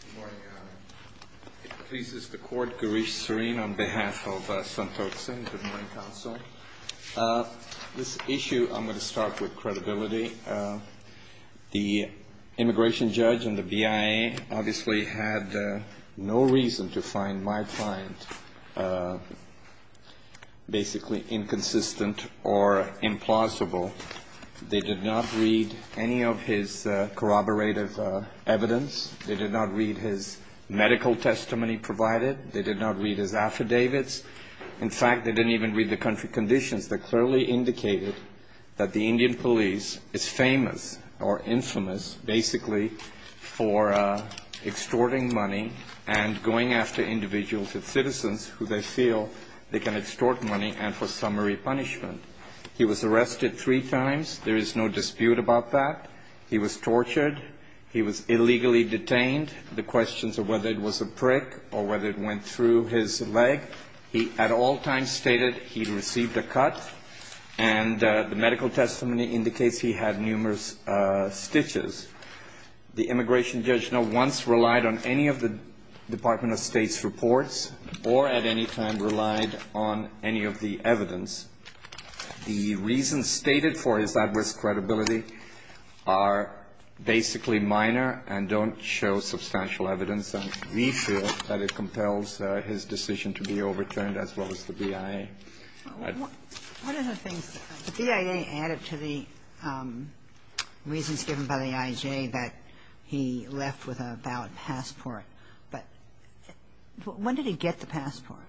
Good morning, Your Honor. It pleases the Court, Girish Srin, on behalf of Suntok Singh. Good morning, counsel. This issue, I'm going to start with credibility. The immigration judge and the BIA obviously had no reason to find my client basically inconsistent or implausible. They did not read any of his corroborative evidence. They did not read his medical testimony provided. They did not read his affidavits. In fact, they didn't even read the country conditions that clearly indicated that the Indian police is famous or infamous basically for extorting money and going after individuals and citizens who they feel they can extort money and for summary punishment. He was arrested three times. There is no dispute about that. He was tortured. He was illegally detained. The questions of whether it was a prick or whether it went through his leg, he at all times stated he received a cut. And the medical testimony indicates he had numerous stitches. The immigration judge no once relied on any of the Department of State's reports or at any time relied on any of the evidence. The reasons stated for his adverse credibility are basically minor and don't show substantial evidence. And we feel that it compels his decision to be overturned as well as the BIA. Ginsburg. One of the things, the BIA added to the reasons given by the IJ that he left with a valid passport, but when did he get the passport?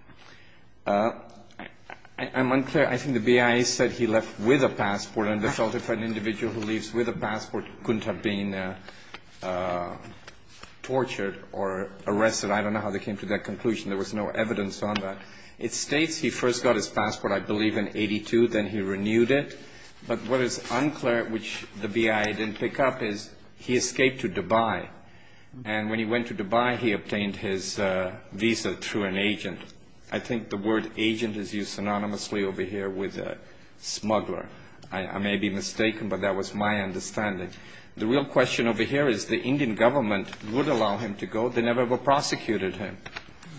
I'm unclear. I think the BIA said he left with a passport and they felt if an individual who leaves with a passport couldn't have been tortured or arrested. I don't know how they came to that conclusion. There was no evidence on that. It states he first got his passport, I believe, in 82, then he renewed it. But what is unclear, which the BIA didn't pick up, is he escaped to Dubai. And when he went to Dubai, he obtained his visa through an agent. I think the word agent is used synonymously over here with smuggler. I may be mistaken, but that was my understanding. The real question over here is the Indian government would allow him to go. They never prosecuted him.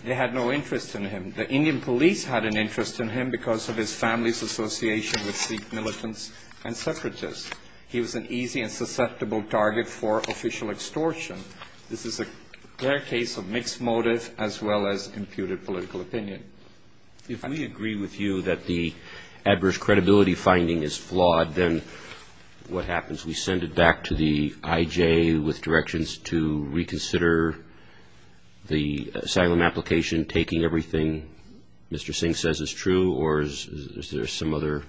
They had no interest in him. The Indian police had an interest in him because of his family's association with Sikh militants and separatists. He was an easy and susceptible target for official extortion. This is a clear case of mixed motive as well as imputed political opinion. If we agree with you that the adverse credibility finding is flawed, then what happens? We send it back to the IJ with directions to reconsider the asylum application, taking everything Mr. Singh says is true, or is there some other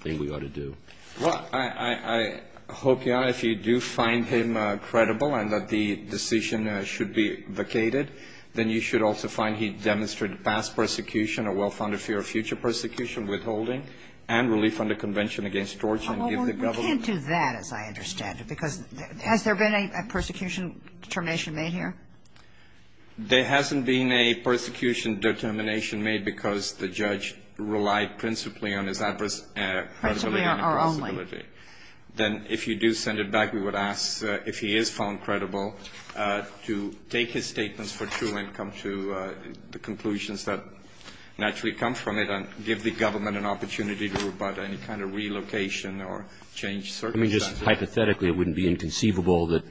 thing we ought to do? Well, I hope, yeah, if you do find him credible and that the decision should be vacated, then you should also find he demonstrated past persecution, a well-founded fear of future persecution, withholding, and relief under Convention Against Torture and give the government. Well, we can't do that, as I understand it, because has there been a persecution determination made here? There hasn't been a persecution determination made because the judge relied principally on his adverse credibility. Principally or only. Then if you do send it back, we would ask if he is found credible to take his statements for true and come to the conclusions that naturally come from it and give the government an opportunity to rebut any kind of relocation or change circumstances. I mean, just hypothetically, it wouldn't be inconceivable that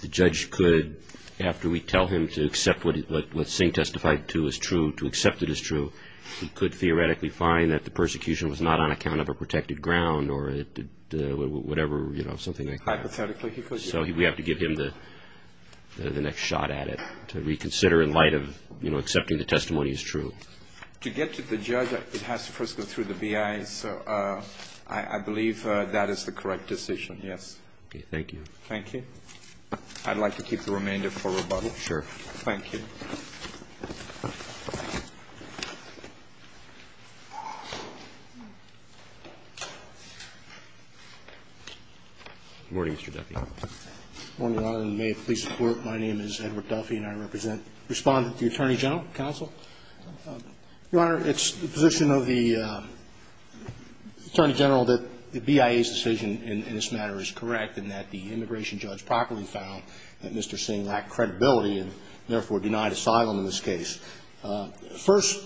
the judge could, after we tell him to accept what Singh testified to as true, to accept it as true, he could theoretically find that the persecution was not on account of a protected ground or whatever, you know, something like that. Hypothetically, he could. So we have to give him the next shot at it to reconsider in light of, you know, accepting the testimony as true. To get to the judge, it has to first go through the BIA, so I believe that is the correct decision, yes. Okay. Thank you. Thank you. I'd like to keep the remainder for rebuttal. Sure. Thank you. Good morning, Mr. Duffy. Good morning, Your Honor, and may it please the Court, my name is Edward Duffy and I represent the respondent to the Attorney General, counsel. Your Honor, it's the position of the Attorney General that the BIA's decision in this matter is correct and that the immigration judge properly found that Mr. Singh lacked credibility and therefore denied asylum in this case. First,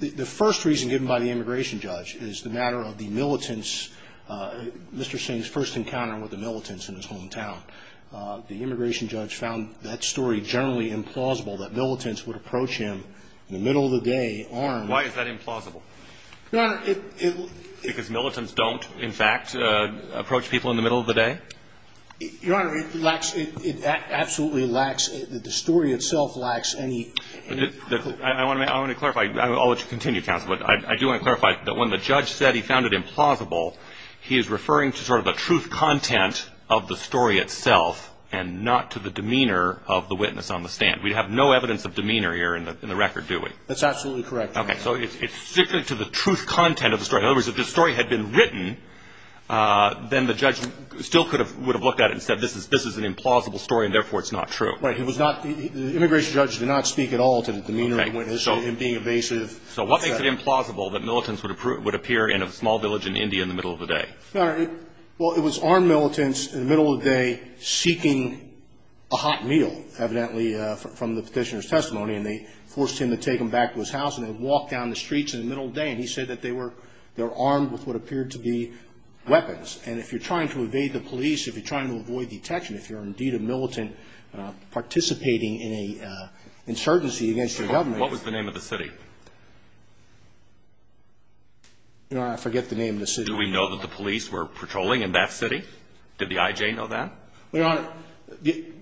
the first reason given by the immigration judge is the matter of the military militants, Mr. Singh's first encounter with the militants in his hometown. The immigration judge found that story generally implausible, that militants would approach him in the middle of the day armed. Why is that implausible? Your Honor, it was... Because militants don't, in fact, approach people in the middle of the day? Your Honor, it lacks, it absolutely lacks, the story itself lacks any... I want to clarify, I'll let you continue, counsel, but I do want to clarify that when the judge said he found it implausible, he is referring to sort of the truth content of the story itself and not to the demeanor of the witness on the stand. We have no evidence of demeanor here in the record, do we? That's absolutely correct, Your Honor. Okay. So it's strictly to the truth content of the story. In other words, if the story had been written, then the judge still could have, would have looked at it and said this is an implausible story and therefore it's not true. Right. It was not, the immigration judge did not speak at all to the demeanor of the witness in being evasive. So what makes it implausible that militants would appear in a small village in India in the middle of the day? Your Honor, well, it was armed militants in the middle of the day seeking a hot meal, evidently, from the petitioner's testimony, and they forced him to take them back to his house, and they walked down the streets in the middle of the day, and he said that they were armed with what appeared to be weapons. And if you're trying to evade the police, if you're trying to avoid detection, if you're indeed a militant participating in an insurgency against your government... Your Honor, what was the name of the city? Your Honor, I forget the name of the city. Do we know that the police were patrolling in that city? Did the I.J. know that? Your Honor,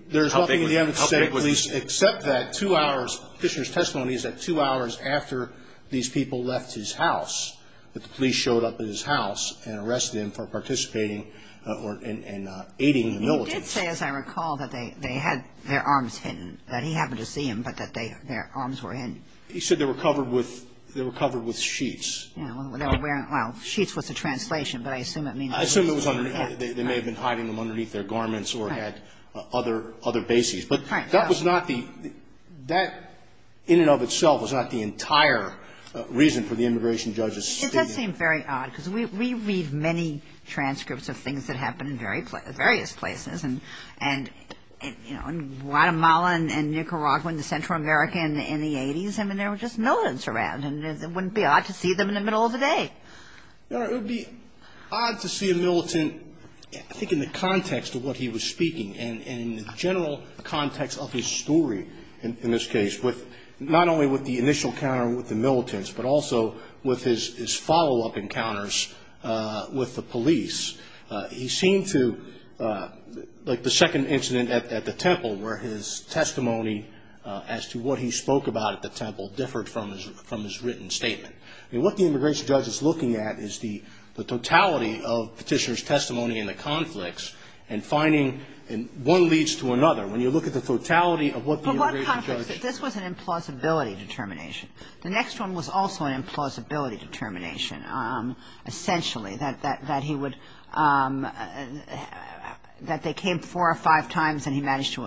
there's nothing in the evidence to say the police accept that two hours, the petitioner's testimony is that two hours after these people left his house, that the police showed up at his house and arrested him for participating in aiding the militants. He did say, as I recall, that they had their arms hidden, that he happened to see them, but that their arms were hidden. He said they were covered with sheets. Well, sheets was the translation, but I assume it means... I assume they may have been hiding them underneath their garments or had other bases. But that was not the... That in and of itself was not the entire reason for the immigration judge's... It does seem very odd, because we read many transcripts of things that happened in various places. And, you know, in Guatemala and Nicaragua and Central America in the 80s, I mean, there were just militants around. It wouldn't be odd to see them in the middle of the day. Your Honor, it would be odd to see a militant, I think, in the context of what he was speaking. And in the general context of his story in this case, not only with the initial encounter with the militants, but also with his follow-up encounters with the police. He seemed to... Like the second incident at the temple, where his testimony as to what he spoke about at the temple differed from his written statement. I mean, what the immigration judge is looking at is the totality of Petitioner's testimony in the conflicts and finding... And one leads to another. When you look at the totality of what the immigration judge... But what conflicts? This was an implausibility determination. The next one was also an implausibility determination, essentially, that he would – that they came four or five times, and he managed to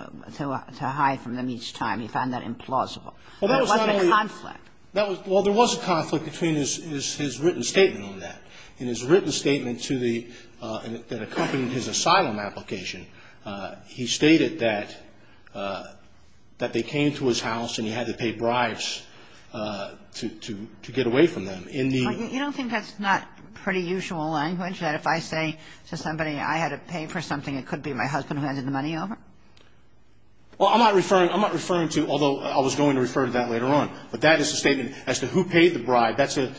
hide from them each time. He found that implausible. There wasn't a conflict. Well, there was a conflict between his written statement on that. In his written statement to the – that accompanied his asylum application, he stated that they came to his house, and he had to pay bribes to get away from them. Well, you don't think that's not pretty usual language, that if I say to somebody I had to pay for something, it could be my husband who handed the money over? Well, I'm not referring – I'm not referring to – although I was going to refer to that later on. But that is a statement as to who paid the bribe. That's a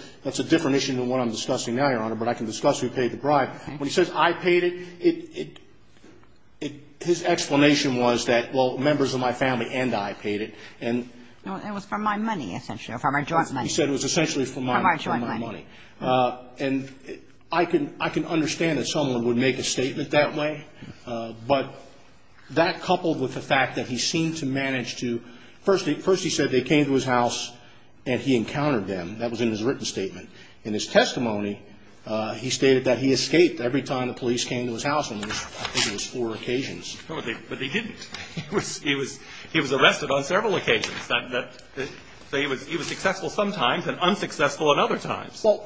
different issue than what I'm discussing now, Your Honor, but I can discuss who paid the bribe. When he says I paid it, it – his explanation was that, well, members of my family and I paid it, and... No, it was for my money, essentially, or for my joint money. He said it was essentially for my money. For my joint money. For my money. And I can – I can understand that someone would make a statement that way, but that coupled with the fact that he seemed to manage to – first, he said they came to his house and he encountered them. That was in his written statement. In his testimony, he stated that he escaped every time the police came to his house on at least four occasions. But they didn't. He was – he was arrested on several occasions. So he was successful sometimes and unsuccessful at other times. Well,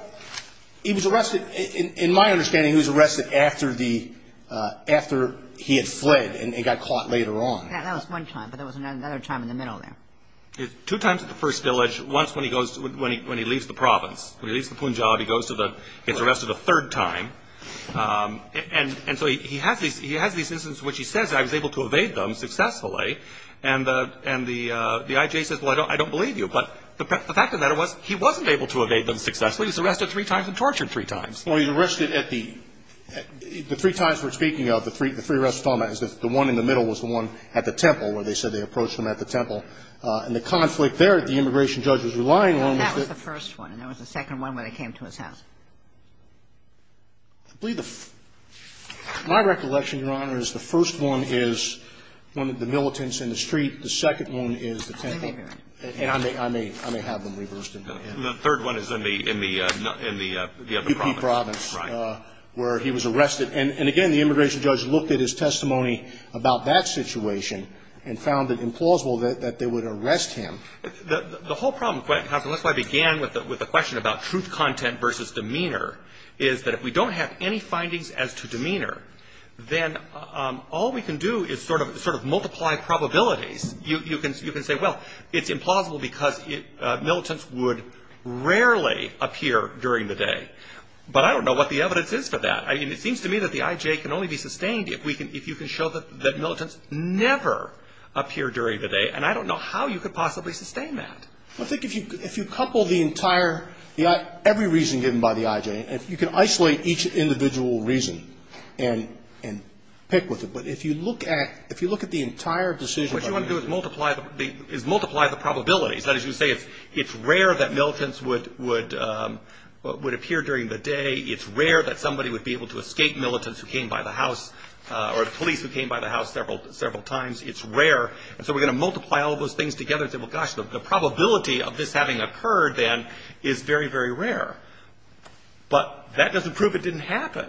he was arrested – in my understanding, he was arrested after the – after he had fled and got caught later on. Yeah, that was one time, but there was another time in the middle there. Two times at the first village, once when he goes – when he leaves the province. When he leaves the Punjab, he goes to the – gets arrested a third time. And so he has these – he has these instances in which he says, I was able to evade them successfully. And the – and the I.J. says, well, I don't believe you. But the fact of the matter was he wasn't able to evade them successfully. He was arrested three times and tortured three times. Well, he was arrested at the – the three times we're speaking of, the three arrests we're talking about is the one in the middle was the one at the temple where they said they approached him at the temple. And the conflict there, the immigration judge was relying on was that – Well, that was the first one. And there was a second one where they came to his house. I believe the – my recollection, Your Honor, is the first one is one of the militants in the street. The second one is the temple. And I may – I may have them reversed. The third one is in the – in the province. Right. Where he was arrested. And, again, the immigration judge looked at his testimony about that situation and found it implausible that they would arrest him. The whole problem, Counsel, and that's why I began with the question about truth content versus demeanor, is that if we don't have any findings as to demeanor, then all we can do is sort of multiply probabilities. You can say, well, it's implausible because militants would rarely appear during the day. But I don't know what the evidence is for that. I mean, it seems to me that the I.J. can only be sustained if we can – if you can show that militants never appear during the day. And I don't know how you could possibly sustain that. Well, I think if you couple the entire – every reason given by the I.J. and you can isolate each individual reason and pick with it. But if you look at – if you look at the entire decision by the I.J. What you want to do is multiply the – is multiply the probabilities. That is, you say it's rare that militants would appear during the day. It's rare that somebody would be able to escape militants who came by the house or the police who came by the house several times. It's rare. And so we're going to multiply all those things together and say, well, gosh, the probability of this having occurred, then, is very, very rare. But that doesn't prove it didn't happen.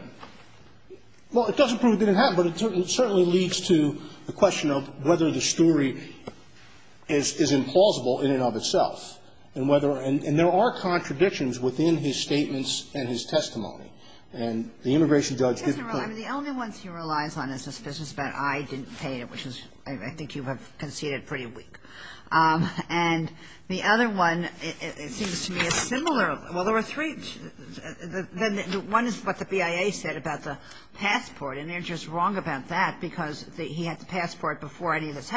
Well, it doesn't prove it didn't happen, but it certainly leads to the question of whether the story is implausible in and of itself. And whether – and there are contradictions within his statements and his testimony. And the immigration judge didn't put – I mean, the only ones he relies on is his business bet. I didn't pay it, which is – I think you have conceded pretty weak. And the other one, it seems to me, is similar. Well, there were three. One is what the BIA said about the passport. And they're just wrong about that because he had the passport before any of this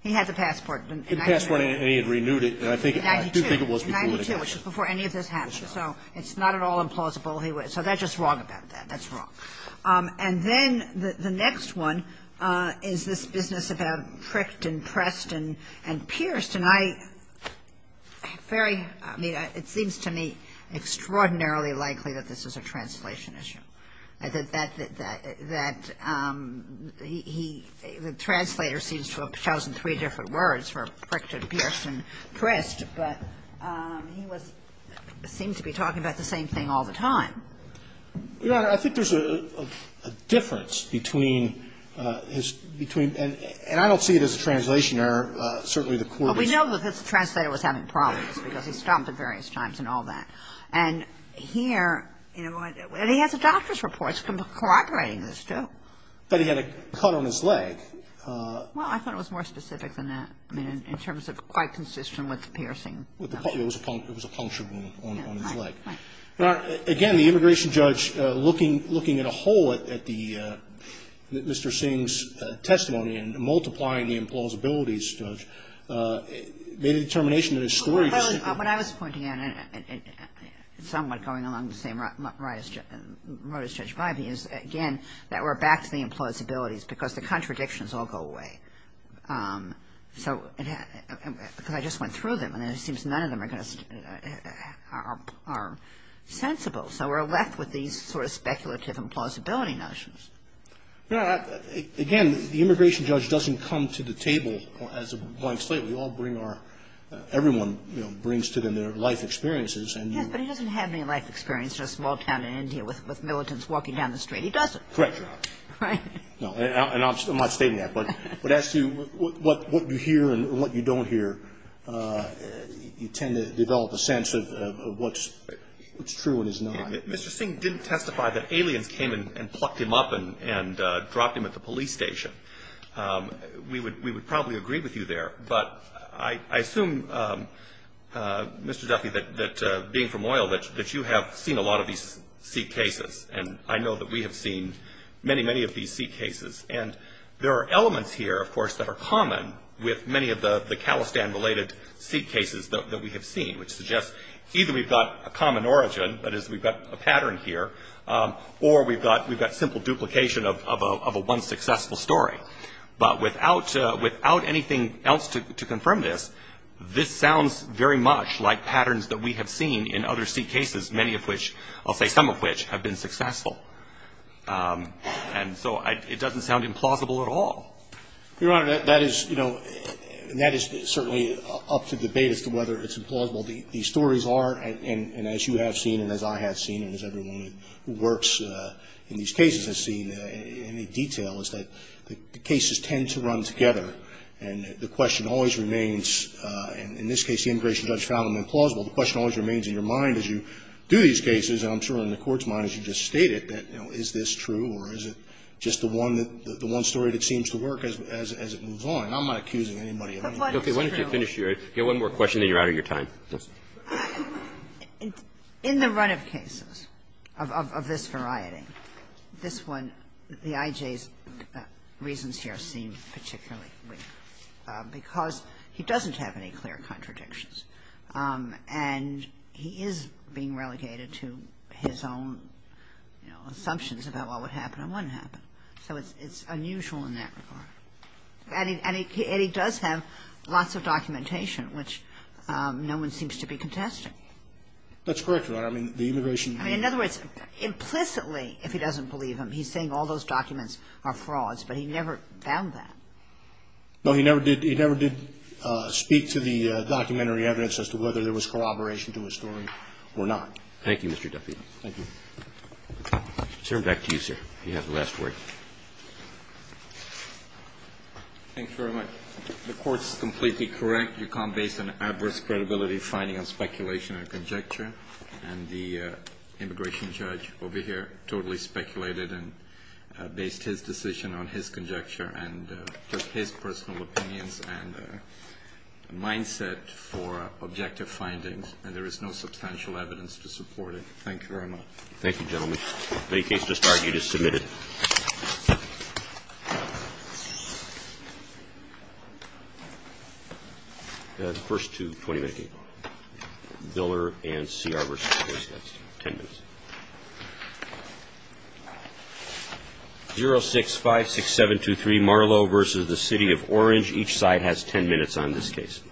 He had the passport in 1992. The passport, and he had renewed it. And I think – I do think it was before any of this happened. In 1992, which is before any of this happened. So it's not at all implausible he was. So they're just wrong about that. That's wrong. And then the next one is this business about Prickton, Preston, and Pierce. And I very – I mean, it seems to me extraordinarily likely that this is a translation issue. That he – the translator seems to have chosen three different words for Prickton, Pierce, and Prest. But he was – seemed to be talking about the same thing all the time. Your Honor, I think there's a difference between his – between – and I don't see it as a translation error. Certainly the court is. But we know that this translator was having problems because he stopped at various times and all that. And here, you know, and he has a doctor's report corroborating this, too. But he had a cut on his leg. Well, I thought it was more specific than that. I mean, in terms of quite consistent with the piercing. It was a punctured wound on his leg. Your Honor, again, the immigration judge looking at a whole at the – Mr. Singh's testimony and multiplying the implausibilities, Judge, made a determination in his story. Well, what I was pointing out, and somewhat going along the same road as Judge Bivey, is, again, that we're back to the implausibilities because the contradictions all go away. So – because I just went through them, and it seems none of them are going to – are sensible. So we're left with these sort of speculative implausibility notions. Your Honor, again, the immigration judge doesn't come to the table as a blank slate. We all bring our – everyone, you know, brings to them their life experiences. Yes, but he doesn't have any life experience in a small town in India with militants walking down the street. He doesn't. Correct, Your Honor. Right. No, and I'm not stating that, but as to what you hear and what you don't hear, you tend to develop a sense of what's true and is not. Mr. Singh didn't testify that aliens came and plucked him up and dropped him at the police station. We would probably agree with you there, but I assume, Mr. Duffy, that being from oil, that you have seen a lot of these Sikh cases, and I know that we have seen many, many of these Sikh cases. And there are elements here, of course, that are common with many of the Khalistan-related Sikh cases that we have seen, which suggests either we've got a common origin, that is, we've got a pattern here, or we've got simple duplication of a once-successful story. But without anything else to confirm this, this sounds very much like patterns that we have seen in other Sikh cases, many of which, I'll say some of which, have been successful. And so it doesn't sound implausible at all. Your Honor, that is, you know, and that is certainly up to debate as to whether it's implausible. These stories are, and as you have seen and as I have seen and as everyone who works in these cases has seen in detail, is that the cases tend to run together. And the question always remains, and in this case, the immigration judge found them implausible. The question always remains in your mind as you do these cases, and I'm sure in the Court's mind as you just stated, that, you know, is this true or is it just the one that the one story that seems to work as it moves on? I'm not accusing anybody of anything. Kagan. But what is true? Roberts. Okay. Why don't you finish your answer. You have one more question, then you're out of your time. Yes. In the run-up cases of this variety, this one, the I.J.'s reasons here seem particularly weak because he doesn't have any clear contradictions. And he is being relegated to his own, you know, assumptions about what would happen and wouldn't happen. So it's unusual in that regard. And he does have lots of documentation, which no one seems to be contesting. That's correct, Your Honor. I mean, the immigration judge. I mean, in other words, implicitly, if he doesn't believe him, he's saying all those documents are frauds, but he never found that. No, he never did. He never did speak to the documentary evidence as to whether there was corroboration to a story or not. Thank you, Mr. Duffy. Thank you. I'll turn it back to you, sir, if you have the last word. Thank you very much. The court is completely correct. You can't base an adverse credibility finding on speculation and conjecture. And the immigration judge over here totally speculated and based his decision on his conjecture and his personal opinions and mindset for objective findings. And there is no substantial evidence to support it. Thank you very much. Thank you, gentlemen. The case just argued is submitted. The first two 20-minute game. Biller and Sear v. Royce, next. Ten minutes. 0656723, Marlowe v. The City of Orange. Each side has ten minutes on this case.